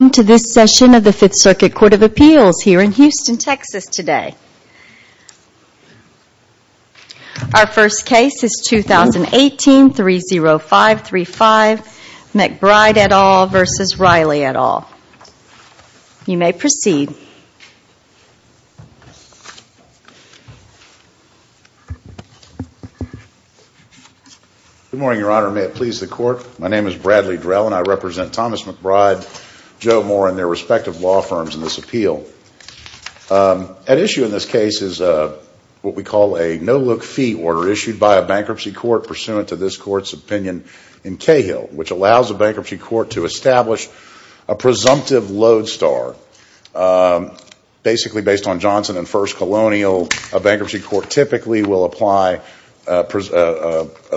Welcome to this session of the Fifth Circuit Court of Appeals here in Houston, Texas today. Our first case is 2018-30535 McBride et al. v. Riley et al. You may proceed. Good morning, Your Honor, and may it please the Court, my name is Bradley Drell and I owe more on their respective law firms in this appeal. At issue in this case is what we call a no-look fee order issued by a bankruptcy court pursuant to this Court's opinion in Cahill, which allows a bankruptcy court to establish a presumptive load star. Basically based on Johnson and First Colonial, a bankruptcy court typically will apply an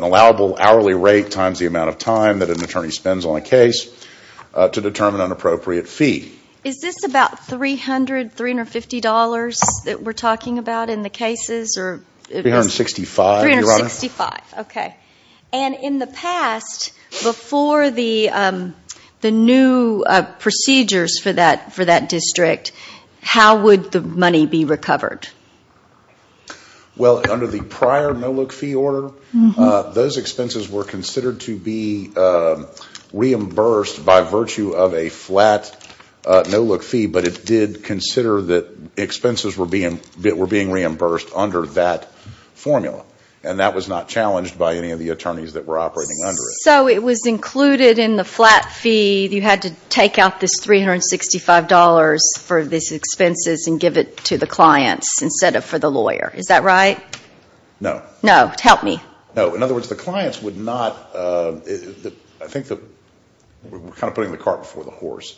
allowable hourly rate times the amount of time that an attorney spends on a case to determine an appropriate fee. Is this about $300, $350 that we're talking about in the cases? $365, Your Honor. $365, okay. And in the past, before the new procedures for that district, how would the money be recovered? Well, under the prior no-look fee order, those expenses were considered to be reimbursed by virtue of a flat no-look fee, but it did consider that expenses were being reimbursed under that formula, and that was not challenged by any of the attorneys that were operating under it. So it was included in the flat fee, you had to take out this $365 for these expenses and give it to the clients instead of for the lawyer, is that right? No. No. Help me. No, in other words, the clients would not, I think we're kind of putting the cart before the horse.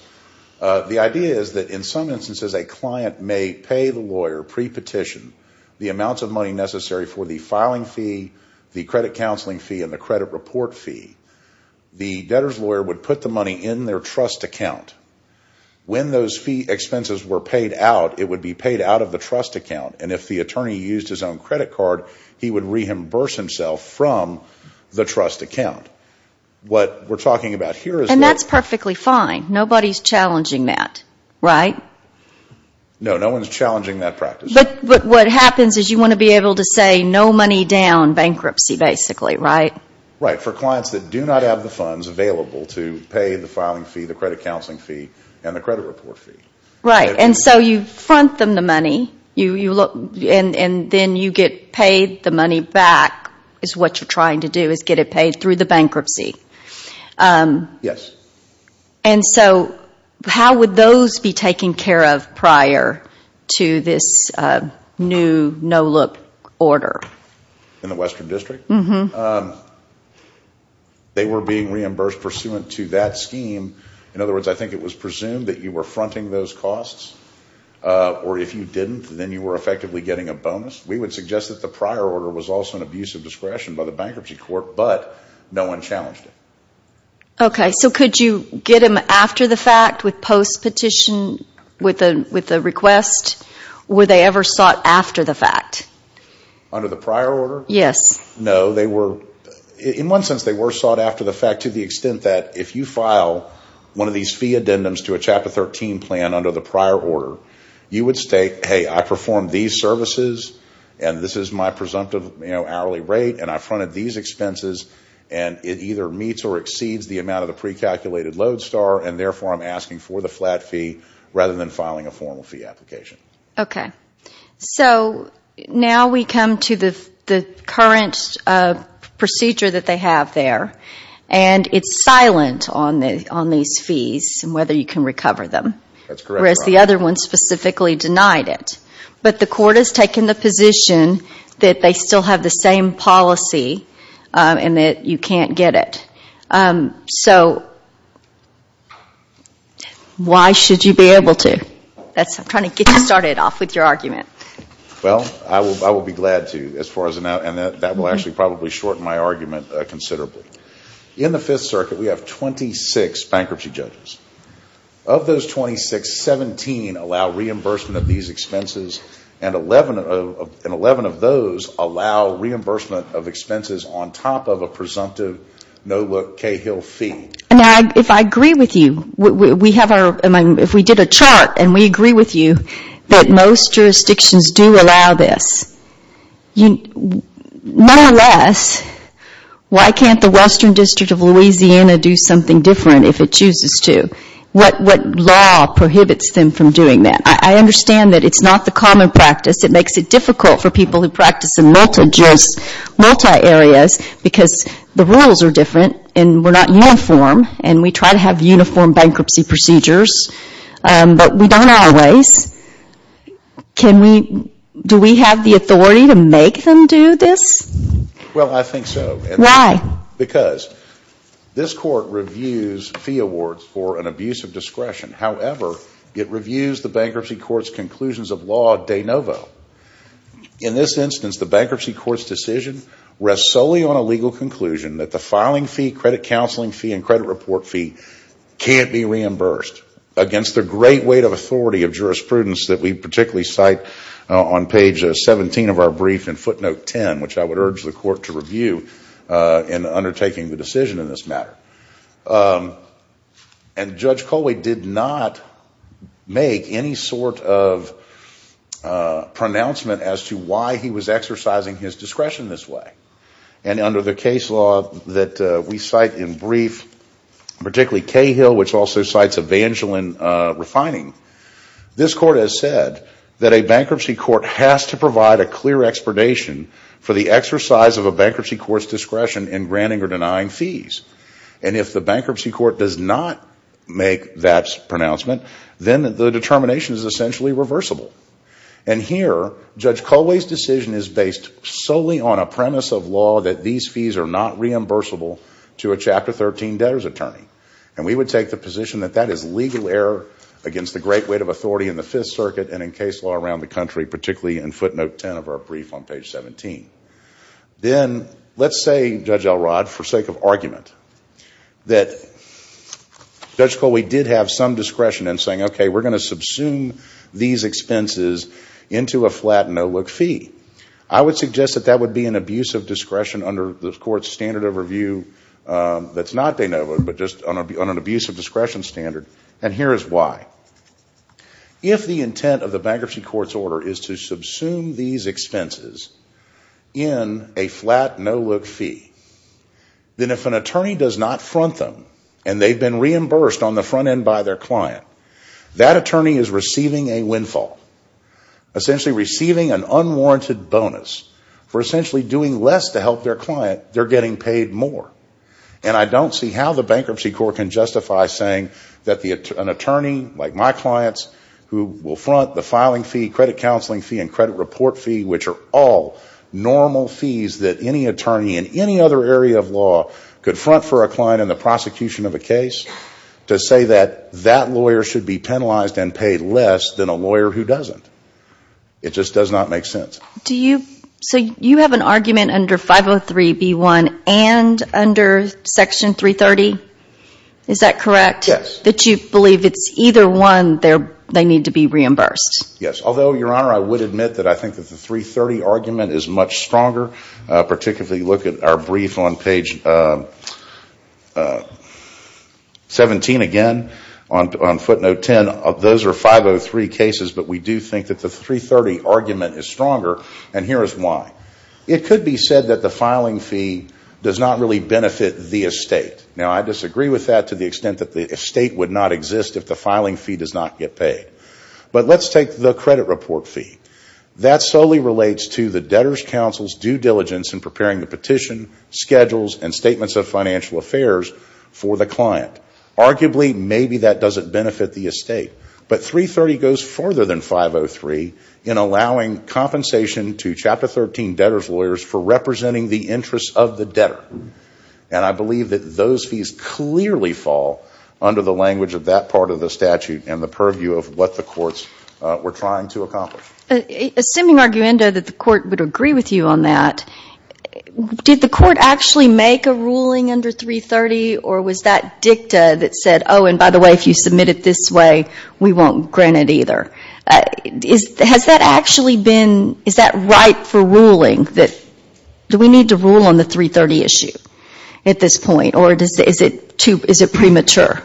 The idea is that in some instances, a client may pay the lawyer pre-petition the amounts of money necessary for the filing fee, the credit counseling fee, and the credit report fee. The debtor's lawyer would put the money in their trust account. When those fee expenses were paid out, it would be paid out of the trust account, and if the attorney used his own credit card, he would reimburse himself from the trust account. What we're talking about here is that... And that's perfectly fine. Nobody's challenging that, right? No, no one's challenging that practice. But what happens is you want to be able to say no money down bankruptcy, basically, right? Right. For clients that do not have the funds available to pay the filing fee, the credit counseling fee, and the credit report fee. Right. And so you front them the money, and then you get paid the money back, is what you're trying to do, is get it paid through the bankruptcy. Yes. And so how would those be taken care of prior to this new NOLIP order? In the Western District? They were being reimbursed pursuant to that scheme. In other words, I think it was presumed that you were fronting those costs, or if you didn't, then you were effectively getting a bonus. We would suggest that the prior order was also an abuse of discretion by the bankruptcy court, but no one challenged it. Okay. So could you get them after the fact with post-petition, with the request? Were they ever sought after the fact? Under the prior order? Yes. No. In one sense, they were sought after the fact to the extent that if you file one of these fee addendums to a Chapter 13 plan under the prior order, you would state, hey, I performed these services, and this is my presumptive hourly rate, and I fronted these expenses, and it either meets or exceeds the amount of the pre-calculated load star, and therefore I'm asking for the flat fee rather than filing a formal fee application. Okay. So now we come to the current procedure that they have there, and it's silent on these fees and whether you can recover them, whereas the other one specifically denied it. But the court has taken the position that they still have the same policy and that you can't get it. So why should you be able to? I'm trying to get you started off with your argument. Well, I will be glad to, as far as I know, and that will actually probably shorten my argument considerably. In the Fifth Circuit, we have 26 bankruptcy judges. Of those 26, 17 allow reimbursement of these expenses, and 11 of those allow reimbursement of expenses on top of a presumptive no-look Cahill fee. Now, if I agree with you, if we did a chart and we agree with you that most jurisdictions do allow this, nonetheless, why can't the Western District of Louisiana do something different if it chooses to? What law prohibits them from doing that? I understand that it's not the common practice. It makes it difficult for people who practice in multi-juris, multi-areas, because the rules are different, and we're not uniform, and we try to have uniform bankruptcy procedures, but we don't always. Do we have the authority to make them do this? Well, I think so. Why? Because this Court reviews fee awards for an abuse of discretion. However, it reviews the bankruptcy court's conclusions of law de novo. In this instance, the bankruptcy court's decision rests solely on a legal conclusion that the filing fee, credit counseling fee, and credit report fee can't be reimbursed against the great weight of authority of jurisprudence that we particularly cite on page 17 of our brief in footnote 10, which I would urge the Court to review in undertaking the decision in this matter. And Judge Colway did not make any sort of pronouncement as to why he was exercising his discretion this way. And under the case law that we cite in brief, particularly Cahill, which also cites Evangeline Refining, this Court has said that a bankruptcy court has to provide a clear expedition for the exercise of a bankruptcy court's discretion in granting or denying fees. And if the bankruptcy court does not make that pronouncement, then the determination is essentially reversible. And here, Judge Colway's decision is based solely on a premise of law that these fees are not reimbursable to a Chapter 13 debtor's attorney. And we would take the position that that is legal error against the great weight of authority in the Fifth Circuit and in case law around the country, particularly in footnote 10 of our brief on page 17. Then, let's say, Judge Elrod, for sake of argument, that Judge Colway did have some expenses into a flat no-look fee. I would suggest that that would be an abuse of discretion under the Court's standard of review that's not de novo, but just on an abuse of discretion standard. And here is why. If the intent of the bankruptcy court's order is to subsume these expenses in a flat no-look fee, then if an attorney does not front them and they've been reimbursed on the front end by their client, that attorney is receiving a windfall, essentially receiving an unwarranted bonus for essentially doing less to help their client, they're getting paid more. And I don't see how the bankruptcy court can justify saying that an attorney, like my clients, who will front the filing fee, credit counseling fee, and credit report fee, which are all normal fees that any attorney in any other area of law could front for a client in the future, that that lawyer should be penalized and paid less than a lawyer who doesn't. It just does not make sense. Do you, so you have an argument under 503B1 and under Section 330, is that correct? Yes. That you believe it's either one, they need to be reimbursed? Yes. Although, Your Honor, I would admit that I think that the 330 argument is much stronger, particularly look at our brief on page 17 again, on footnote 10, those are 503 cases, but we do think that the 330 argument is stronger, and here is why. It could be said that the filing fee does not really benefit the estate. Now I disagree with that to the extent that the estate would not exist if the filing fee does not get paid. But let's take the credit report fee. That solely relates to the debtor's counsel's due diligence in preparing the petition, schedules, and statements of financial affairs for the client. Arguably, maybe that doesn't benefit the estate. But 330 goes further than 503 in allowing compensation to Chapter 13 debtor's lawyers for representing the interests of the debtor. And I believe that those fees clearly fall under the language of that part of the statute and the purview of what the courts were trying to accomplish. Assuming, Arguendo, that the court would agree with you on that, did the court actually make a ruling under 330 or was that dicta that said, oh, and by the way, if you submit it this way, we won't grant it either? Has that actually been, is that right for ruling that we need to rule on the 330 issue at this point? Or is it premature?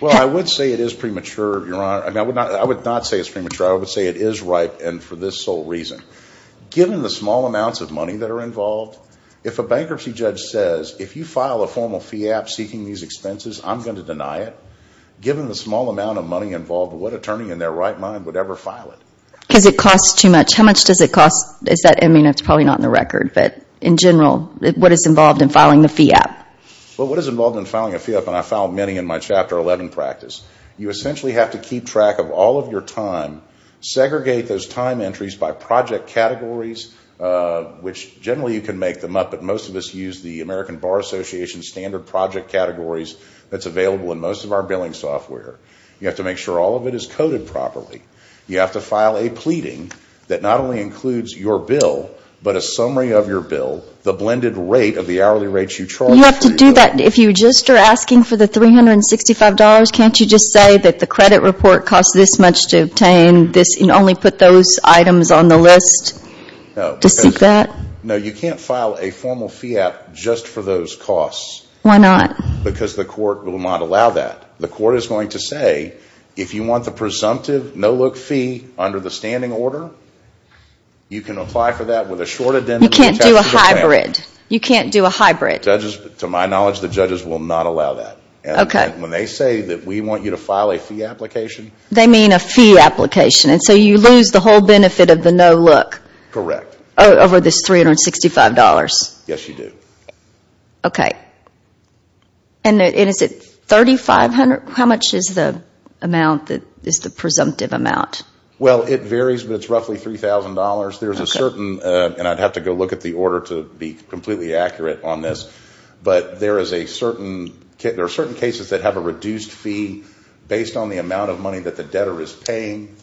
Well, I would say it is premature, Your Honor. I would not say it's premature. I would say it is ripe and for this sole reason. Given the small amounts of money that are involved, if a bankruptcy judge says, if you file a formal fee app seeking these expenses, I'm going to deny it. Given the small amount of money involved, what attorney in their right mind would ever file it? Because it costs too much. How much does it cost? Is that, I mean, it's probably not in the record, but in general, what is involved in filing the fee app? Well, what is involved in filing a fee app, and I file many in my Chapter 11 practice, you essentially have to keep track of all of your time, segregate those time entries by project categories, which generally you can make them up, but most of us use the American Bar Association standard project categories that's available in most of our billing software. You have to make sure all of it is coded properly. You have to file a pleading that not only includes your bill, but a summary of your You have to do that. If you just are asking for the $365, can't you just say that the credit report costs this much to obtain, and only put those items on the list to seek that? No, you can't file a formal fee app just for those costs. Why not? Because the court will not allow that. The court is going to say, if you want the presumptive, no-look fee under the standing order, you can apply for that with a short addendum. You can't do a hybrid. You can't do a hybrid. To my knowledge, the judges will not allow that. When they say that we want you to file a fee application. They mean a fee application, and so you lose the whole benefit of the no-look over this $365? Yes, you do. Okay. And is it $3,500? How much is the amount that is the presumptive amount? Well, it varies, but it's roughly $3,000. There's a certain, and I'd have to go look at the order to be completely accurate on this, but there are certain cases that have a reduced fee based on the amount of money that the debtor is paying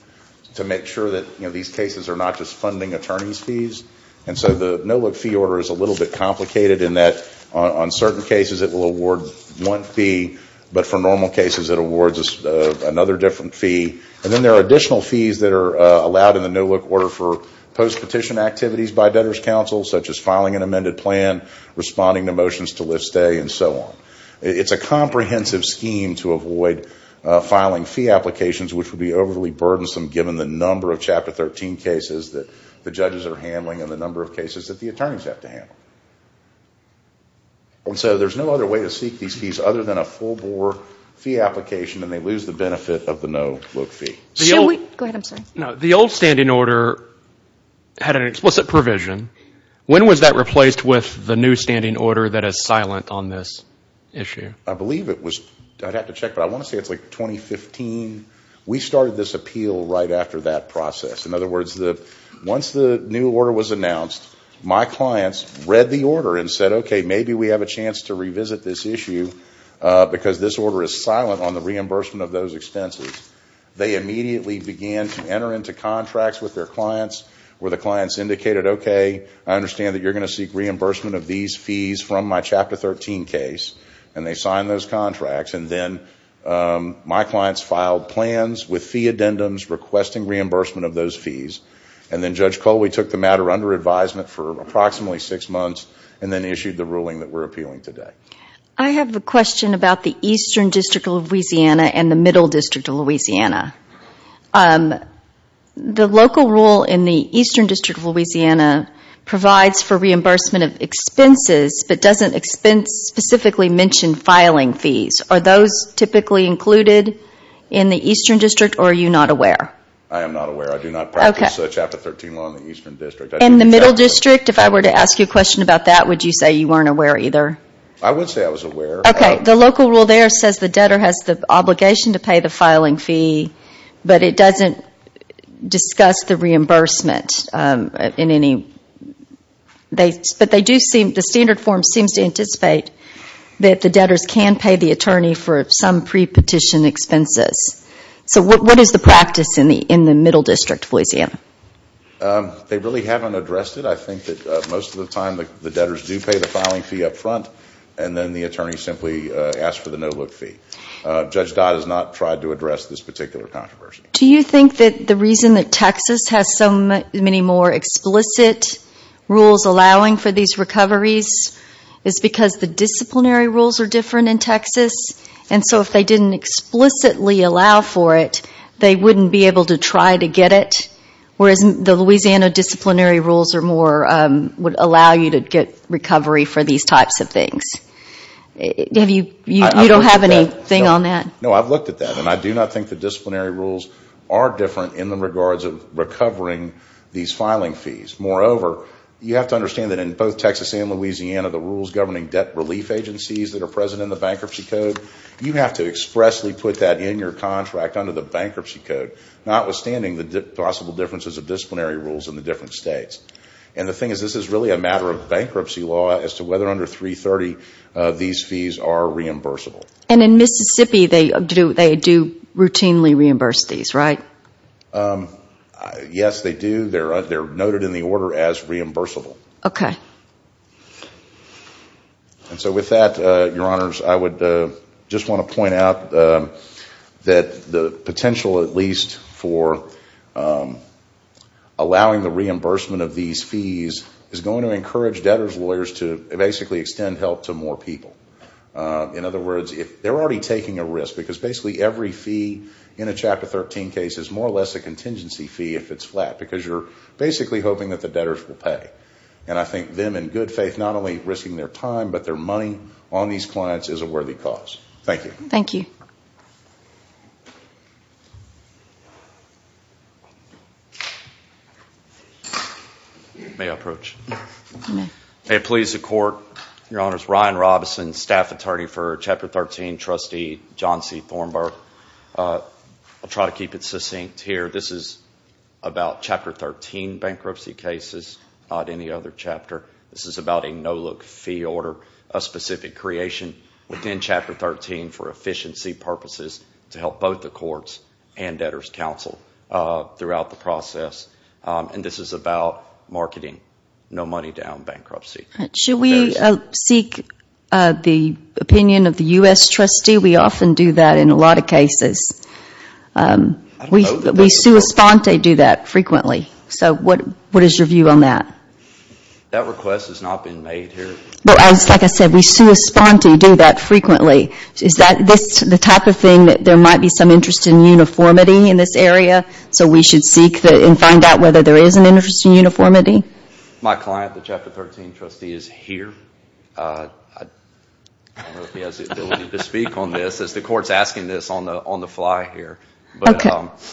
to make sure that these cases are not just funding attorney's fees. And so the no-look fee order is a little bit complicated in that on certain cases it will award one fee, but for normal cases it awards another different fee. And then there are additional fees that are allowed in the no-look order for post-petition activities by debtor's counsel, such as filing an amended plan, responding to motions to lift stay, and so on. It's a comprehensive scheme to avoid filing fee applications, which would be overly burdensome given the number of Chapter 13 cases that the judges are handling and the number of cases that the attorneys have to handle. And so there's no other way to seek these fees other than a full-bore fee application, and they lose the benefit of the no-look fee. The old standing order had an explicit provision. When was that replaced with the new standing order that is silent on this issue? I believe it was, I'd have to check, but I want to say it's like 2015. We started this appeal right after that process. In other words, once the new order was announced, my clients read the order and said, okay, maybe we have a chance to revisit this issue because this order is silent on the reimbursement of those expenses. They immediately began to enter into contracts with their clients where the clients indicated, okay, I understand that you're going to seek reimbursement of these fees from my Chapter 13 case, and they signed those contracts. And then my clients filed plans with fee addendums requesting reimbursement of those fees. And then Judge Coley took the matter under advisement for approximately six months and then issued the ruling that we're appealing today. I have a question about the Eastern District of Louisiana and the Middle District of Louisiana. The local rule in the Eastern District of Louisiana provides for reimbursement of expenses but doesn't specifically mention filing fees. Are those typically included in the Eastern District, or are you not aware? I am not aware. I do not practice Chapter 13 law in the Eastern District. In the Middle District? If I were to ask you a question about that, would you say you weren't aware either? I would say I was aware. Okay. The local rule there says the debtor has the obligation to pay the filing fee, but it doesn't discuss the reimbursement in any – but they do seem – the standard form seems to anticipate that the debtors can pay the attorney for some pre-petition expenses. So what is the practice in the Middle District of Louisiana? They really haven't addressed it. I think that most of the time the debtors do pay the filing fee up front, and then the attorney simply asks for the no-look fee. Judge Dodd has not tried to address this particular controversy. Do you think that the reason that Texas has so many more explicit rules allowing for these recoveries is because the disciplinary rules are different in Texas? And so if they didn't explicitly allow for it, they wouldn't be able to try to get it? Whereas the Louisiana disciplinary rules are more – would allow you to get recovery for these types of things? You don't have anything on that? No, I've looked at that. And I do not think the disciplinary rules are different in the regards of recovering these filing fees. Moreover, you have to understand that in both Texas and Louisiana, the rules governing debt relief agencies that are present in the Bankruptcy Code, you have to expressly put that in your contract under the Bankruptcy Code, notwithstanding the possible differences of disciplinary rules in the different states. And the thing is, this is really a matter of bankruptcy law as to whether under 330 these fees are reimbursable. And in Mississippi, they do routinely reimburse these, right? Yes, they do. They're noted in the order as reimbursable. Okay. And so with that, Your Honors, I would just want to point out that the potential at least for allowing the reimbursement of these fees is going to encourage debtors' lawyers to basically extend help to more people. In other words, they're already taking a risk because basically every fee in a Chapter 13 case is more or less a contingency fee if it's flat because you're basically hoping that the debtors will pay. And I think them, in good faith, not only risking their time but their money on these clients is a worthy cause. Thank you. Thank you. May I approach? You may. May it please the Court, Your Honors, Ryan Robison, Staff Attorney for Chapter 13, Trustee John C. Thornburgh. I'll try to keep it succinct here. This is about Chapter 13 bankruptcy cases, not any other chapter. This is about a no-look fee order, a specific creation within Chapter 13 for efficiency purposes to help both the courts and debtors' counsel throughout the process. And this is about marketing no-money-down bankruptcy. Should we seek the opinion of the U.S. Trustee? We often do that in a lot of cases. I don't know that that's... We sui sponte do that frequently. So what is your view on that? That request has not been made here. Well, like I said, we sui sponte do that frequently. Is that the type of thing that there might be some interest in uniformity in this area so we should seek and find out whether there is an interest in uniformity? My client, the Chapter 13 trustee, is here. I don't know if he has the ability to speak on this. The court is asking this on the fly here. Okay.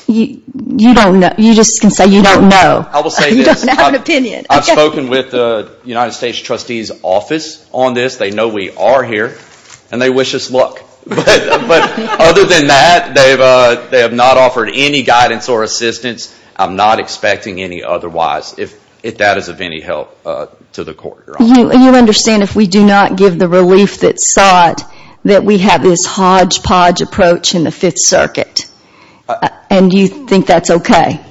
You don't know. You just can say you don't know. I will say this. You don't have an opinion. Okay. I've spoken with the United States Trustee's office on this. They know we are here, and they wish us luck. But other than that, they have not offered any guidance or assistance. I'm not expecting any otherwise, if that is of any help to the court. You understand if we do not give the relief that sought, that we have this hodgepodge approach in the Fifth Circuit, and you think that's okay?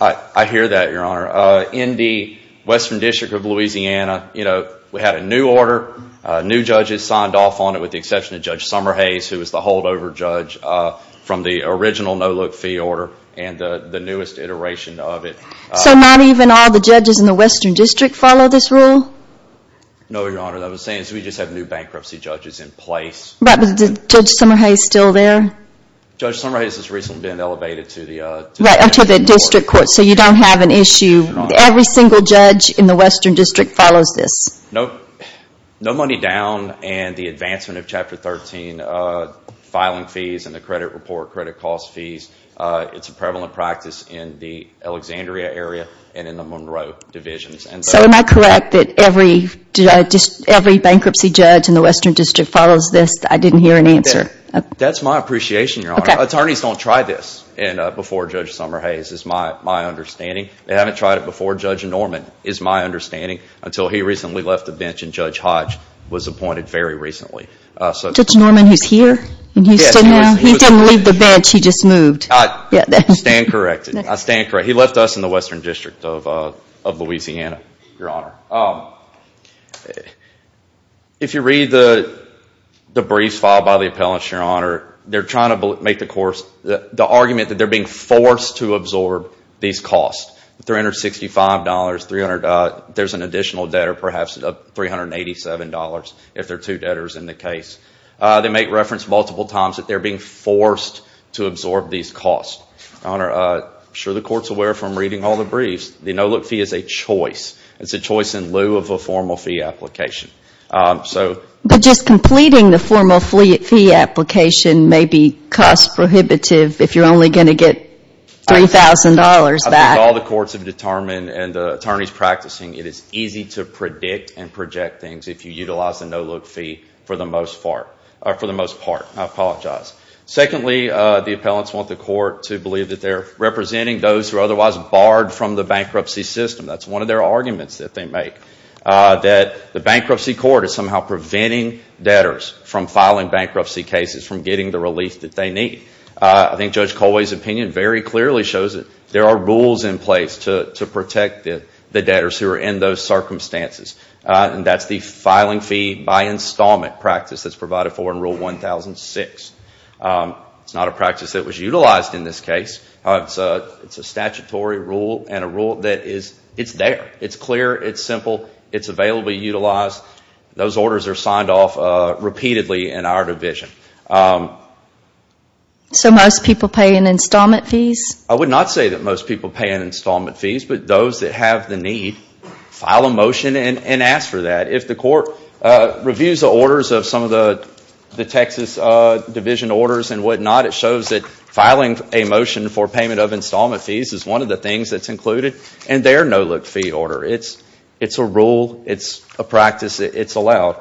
I hear that, Your Honor. In the Western District of Louisiana, we had a new order. New judges signed off on it, with the exception of Judge Summerhays, who was the holdover judge from the original no-look fee order and the newest iteration of it. So not even all the judges in the Western District follow this rule? No, Your Honor. What I'm saying is we just have new bankruptcy judges in place. But Judge Summerhays is still there? Judge Summerhays has recently been elevated to the district court. So you don't have an issue. Every single judge in the Western District follows this. No money down, and the advancement of Chapter 13, filing fees, and the credit report, credit cost fees. It's a prevalent practice in the Alexandria area and in the Monroe divisions. So am I correct that every bankruptcy judge in the Western District follows this? I didn't hear an answer. That's my appreciation, Your Honor. Attorneys don't try this before Judge Summerhays, is my understanding. They haven't tried it before Judge Norman, is my understanding, until he recently left the bench and Judge Hodge was appointed very recently. Judge Norman, who's here? Yes, he was on the bench. He was on the bench. He just moved. I stand corrected. I stand corrected. He left us in the Western District of Louisiana, Your Honor. If you read the briefs filed by the appellants, Your Honor, they're trying to make the argument that they're being forced to absorb these costs, $365.00. There's an additional debtor, perhaps $387.00, if there are two debtors in the case. They make reference multiple times that they're being forced to absorb these costs. Your Honor, I'm sure the Court's aware from reading all the briefs, the no-look fee is a choice. It's a choice in lieu of a formal fee application. But just completing the formal fee application may be cost prohibitive if you're only going to get $3,000.00 back. I think all the courts have determined and the attorneys practicing, it is easy to predict and project things if you utilize the no-look fee for the most part. I apologize. Secondly, the appellants want the Court to believe that they're representing those who are otherwise barred from the bankruptcy system. That's one of their arguments that they make, that the bankruptcy court is somehow preventing debtors from filing bankruptcy cases, from getting the relief that they need. I think Judge Colway's opinion very clearly shows that there are rules in place to protect the debtors who are in those circumstances. That's the filing fee by installment practice that's provided for in Rule 1006. It's not a practice that was utilized in this case. It's a statutory rule and a rule that is there. It's clear. It's simple. It's available to utilize. Those orders are signed off repeatedly in our division. So most people pay in installment fees? I would not say that most people pay in installment fees, but those that have the need file a motion and ask for that. If the Court reviews the orders of some of the Texas division orders and whatnot, it shows that filing a motion for payment of installment fees is one of the things that's included in their no-look fee order. It's a rule. It's a practice. It's allowed.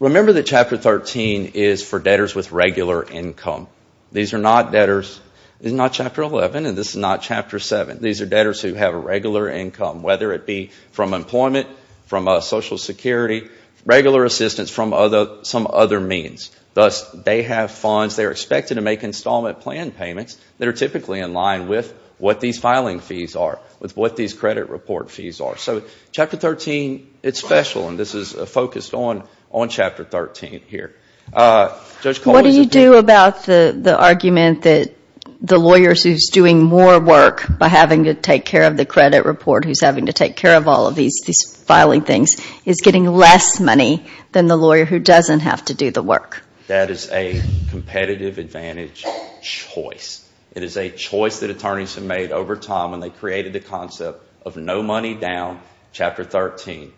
Remember that Chapter 13 is for debtors with regular income. These are not debtors. This is not Chapter 11, and this is not Chapter 7. These are debtors who have a regular income, whether it be from employment, from Social Security, regular assistance from some other means. Thus, they have funds. They are expected to make installment plan payments that are typically in line with what these filing fees are, with what these credit report fees are. So Chapter 13, it's special, and this is focused on Chapter 13 here. What do you do about the argument that the lawyer who's doing more work by having to take care of the credit report, who's having to take care of all of these filing things, is getting less money than the lawyer who doesn't have to do the work? That is a competitive advantage choice. It is a choice that attorneys have made over time when they created the concept of no money down Chapter 13.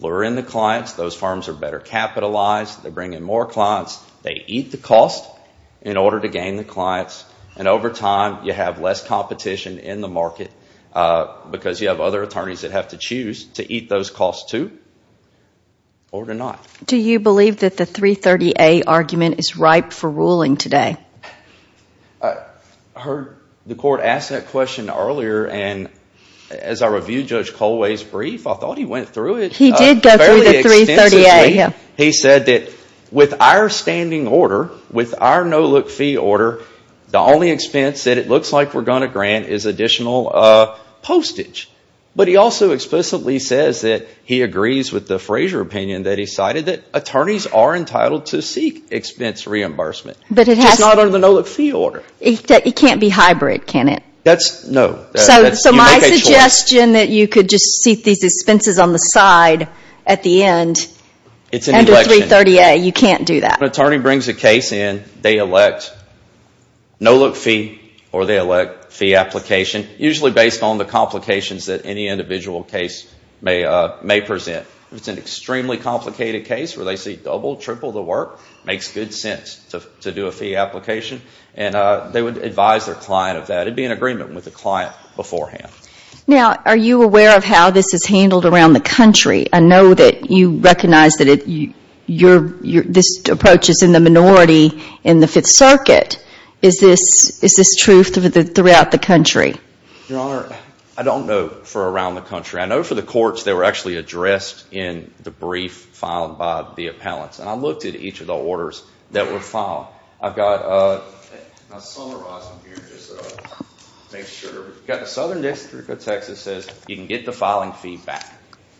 Lure in the clients, those firms are better capitalized, they bring in more clients, they eat the cost in order to gain the clients, and over time, you have less competition in the market because you have other attorneys that have to choose to eat those costs too or to not. Do you believe that the 330A argument is ripe for ruling today? I heard the court ask that question earlier, and as I reviewed Judge Colway's brief, I think he did go through the 330A. He said that with our standing order, with our no-look fee order, the only expense that it looks like we're going to grant is additional postage. But he also explicitly says that he agrees with the Frazier opinion that he cited that attorneys are entitled to seek expense reimbursement, which is not under the no-look fee order. It can't be hybrid, can it? That's no. So my suggestion that you could just seek these expenses on the side at the end, under 330A, you can't do that? If an attorney brings a case in, they elect no-look fee or they elect fee application, usually based on the complications that any individual case may present. If it's an extremely complicated case where they see double, triple the work, it makes good sense to do a fee application, and they would advise their client of that. It would be in agreement with the client beforehand. Now, are you aware of how this is handled around the country? I know that you recognize that this approach is in the minority in the Fifth Circuit. Is this true throughout the country? Your Honor, I don't know for around the country. I know for the courts, they were actually addressed in the brief filed by the appellants. And I looked at each of the orders that were filed. I've got a... I'll summarize them here, just to make sure. We've got the Southern District of Texas says you can get the filing fee back.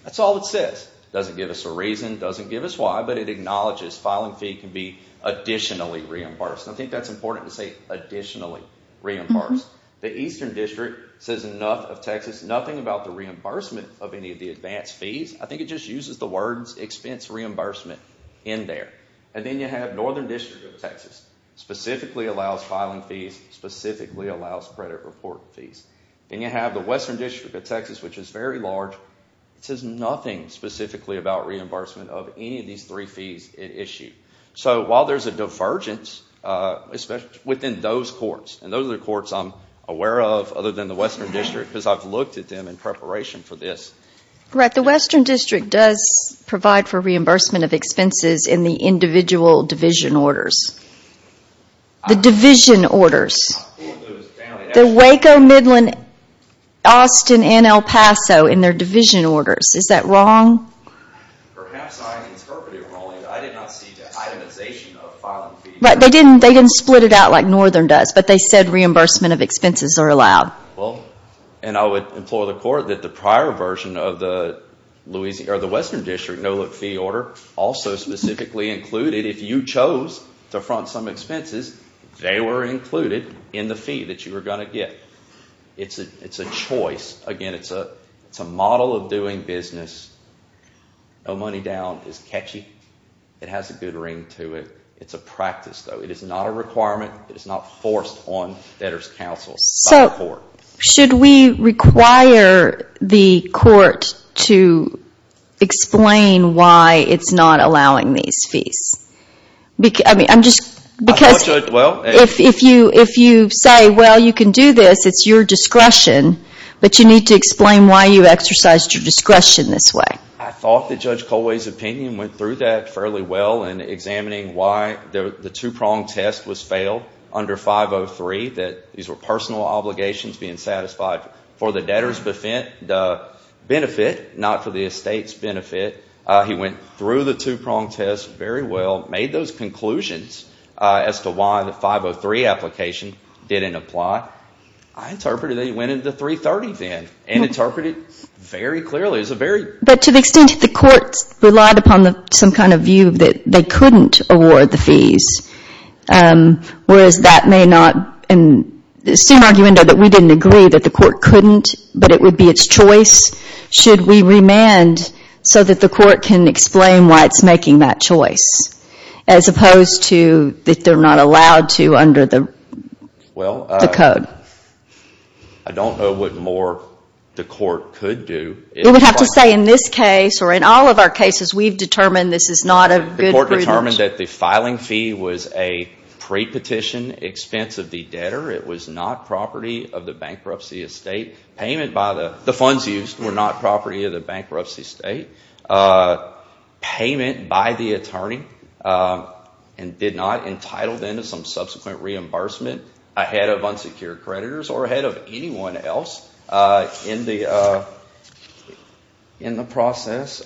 That's all it says. It doesn't give us a reason, doesn't give us why, but it acknowledges filing fee can be additionally reimbursed. I think that's important to say, additionally reimbursed. The Eastern District says enough of Texas, nothing about the reimbursement of any of the advance fees. I think it just uses the words expense reimbursement in there. And then you have Northern District of Texas, specifically allows filing fees, specifically allows credit report fees. And you have the Western District of Texas, which is very large, it says nothing specifically about reimbursement of any of these three fees it issued. So while there's a divergence, especially within those courts, and those are the courts I'm aware of other than the Western District, because I've looked at them in preparation for this. The Western District does provide for reimbursement of expenses in the individual division orders. The division orders. The Waco, Midland, Austin, and El Paso in their division orders. Is that wrong? Perhaps I interpreted wrongly. I did not see the itemization of filing fees. They didn't split it out like Northern does, but they said reimbursement of expenses are allowed. Well, and I would implore the court that the prior version of the Western District no-look fee order also specifically included, if you chose to front some expenses, they were included in the fee that you were going to get. It's a choice. Again, it's a model of doing business. No money down is catchy. It has a good ring to it. It's a practice, though. It is not a requirement. It is not forced on debtors' counsels by the court. Should we require the court to explain why it's not allowing these fees? If you say, well, you can do this, it's your discretion, but you need to explain why you exercised your discretion this way. I thought that Judge Colway's opinion went through that fairly well in examining why the two-prong test was failed under 503, that these were personal obligations being satisfied for the debtor's benefit, not for the estate's benefit. He went through the two-prong test very well, made those conclusions as to why the 503 application didn't apply. I interpreted that he went into 330 then and interpreted very clearly. But to the extent that the courts relied upon some kind of view that they couldn't award the fees, whereas that may not, in the same argument that we didn't agree that the court couldn't, but it would be its choice, should we remand so that the court can explain why it's making that choice, as opposed to that they're not allowed to under the code? I don't know what more the court could do. You would have to say in this case, or in all of our cases, we've determined this is not a good prudence. The court determined that the filing fee was a pre-petition expense of the debtor. It was not property of the bankruptcy estate. The funds used were not property of the bankruptcy estate. Payment by the attorney and did not entitled them to some subsequent reimbursement ahead of unsecured creditors or ahead of anyone else in the process.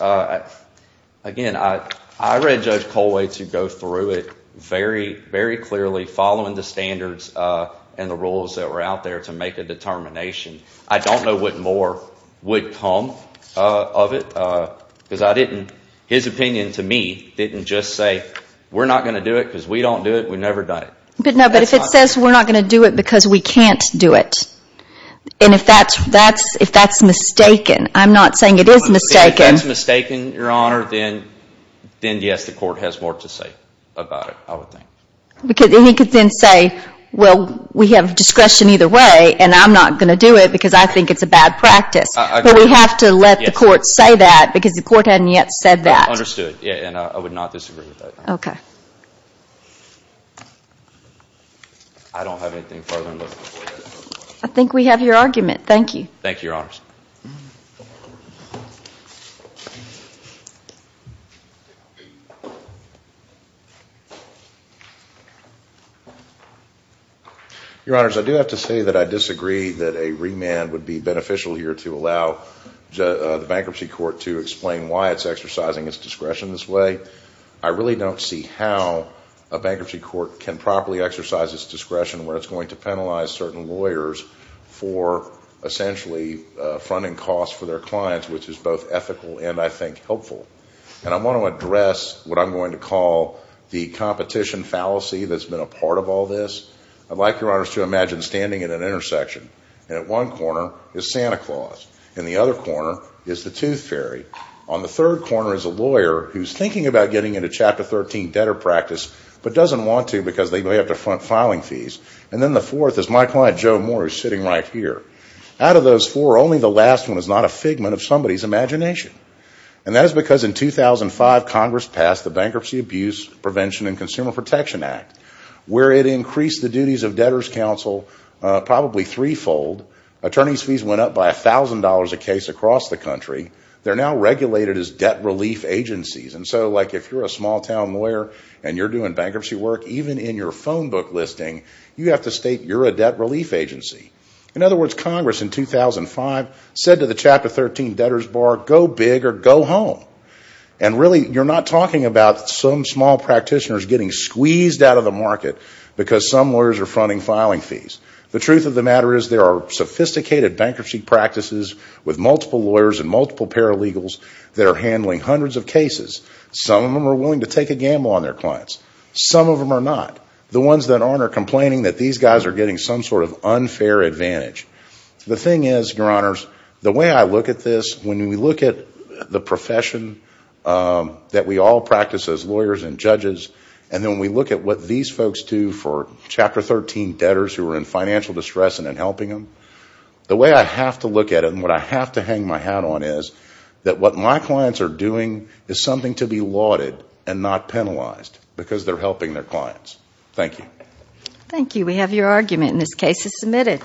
Again, I read Judge Colway to go through it very, very clearly, following the standards and the rules that were out there to make a determination. I don't know what more would come of it, because I didn't, his opinion to me didn't just say we're not going to do it because we don't do it, we've never done it. No, but if it says we're not going to do it because we can't do it, and if that's mistaken, I'm not saying it is mistaken. If that's mistaken, your honor, then yes, the court has more to say about it, I would think. Because he could then say, well, we have discretion either way, and I'm not going to do it because I think it's a bad practice, but we have to let the court say that because the court hadn't yet said that. Understood. And I would not disagree with that. Okay. I don't have anything further to say. I think we have your argument. Thank you. Thank you, your honors. Your honors, I do have to say that I disagree that a remand would be beneficial here to allow the bankruptcy court to explain why it's exercising its discretion this way. I really don't see how a bankruptcy court can properly exercise its discretion where it's going to penalize certain lawyers for essentially fronting costs for their clients, which is both ethical and I think helpful. And I want to address what I'm going to call the competition fallacy that's been a part of all this. I'd like your honors to imagine standing at an intersection, and at one corner is Santa Claus. In the other corner is the tooth fairy. On the third corner is a lawyer who's thinking about getting into Chapter 13 debtor practice, but doesn't want to because they may have to front filing fees. And then the fourth is my client, Joe Moore, who's sitting right here. Out of those four, only the last one is not a figment of somebody's imagination. And that is because in 2005, Congress passed the Bankruptcy Abuse Prevention and Consumer Protection Act, where it increased the duties of debtor's counsel probably threefold. Attorneys' fees went up by $1,000 a case across the country. They're now regulated as debt relief agencies. And so if you're a small-town lawyer and you're doing bankruptcy work, even in your phone book listing, you have to state you're a debt relief agency. In other words, Congress in 2005 said to the Chapter 13 debtor's bar, go big or go home. And really, you're not talking about some small practitioners getting squeezed out of the market because some lawyers are fronting filing fees. The truth of the matter is there are sophisticated bankruptcy practices with multiple lawyers and multiple paralegals that are handling hundreds of cases. Some of them are willing to take a gamble on their clients. Some of them are not. The ones that aren't are complaining that these guys are getting some sort of unfair advantage. The thing is, Your Honors, the way I look at this, when we look at the profession that we all practice as lawyers and judges, and then we look at what these folks do for Chapter 13 debtors who are in financial distress and in helping them, the way I have to look at it and what I have to hang my hat on is that what my clients are doing is something to be lauded and not penalized because they're helping their clients. Thank you. Thank you. We have your argument in this case as submitted.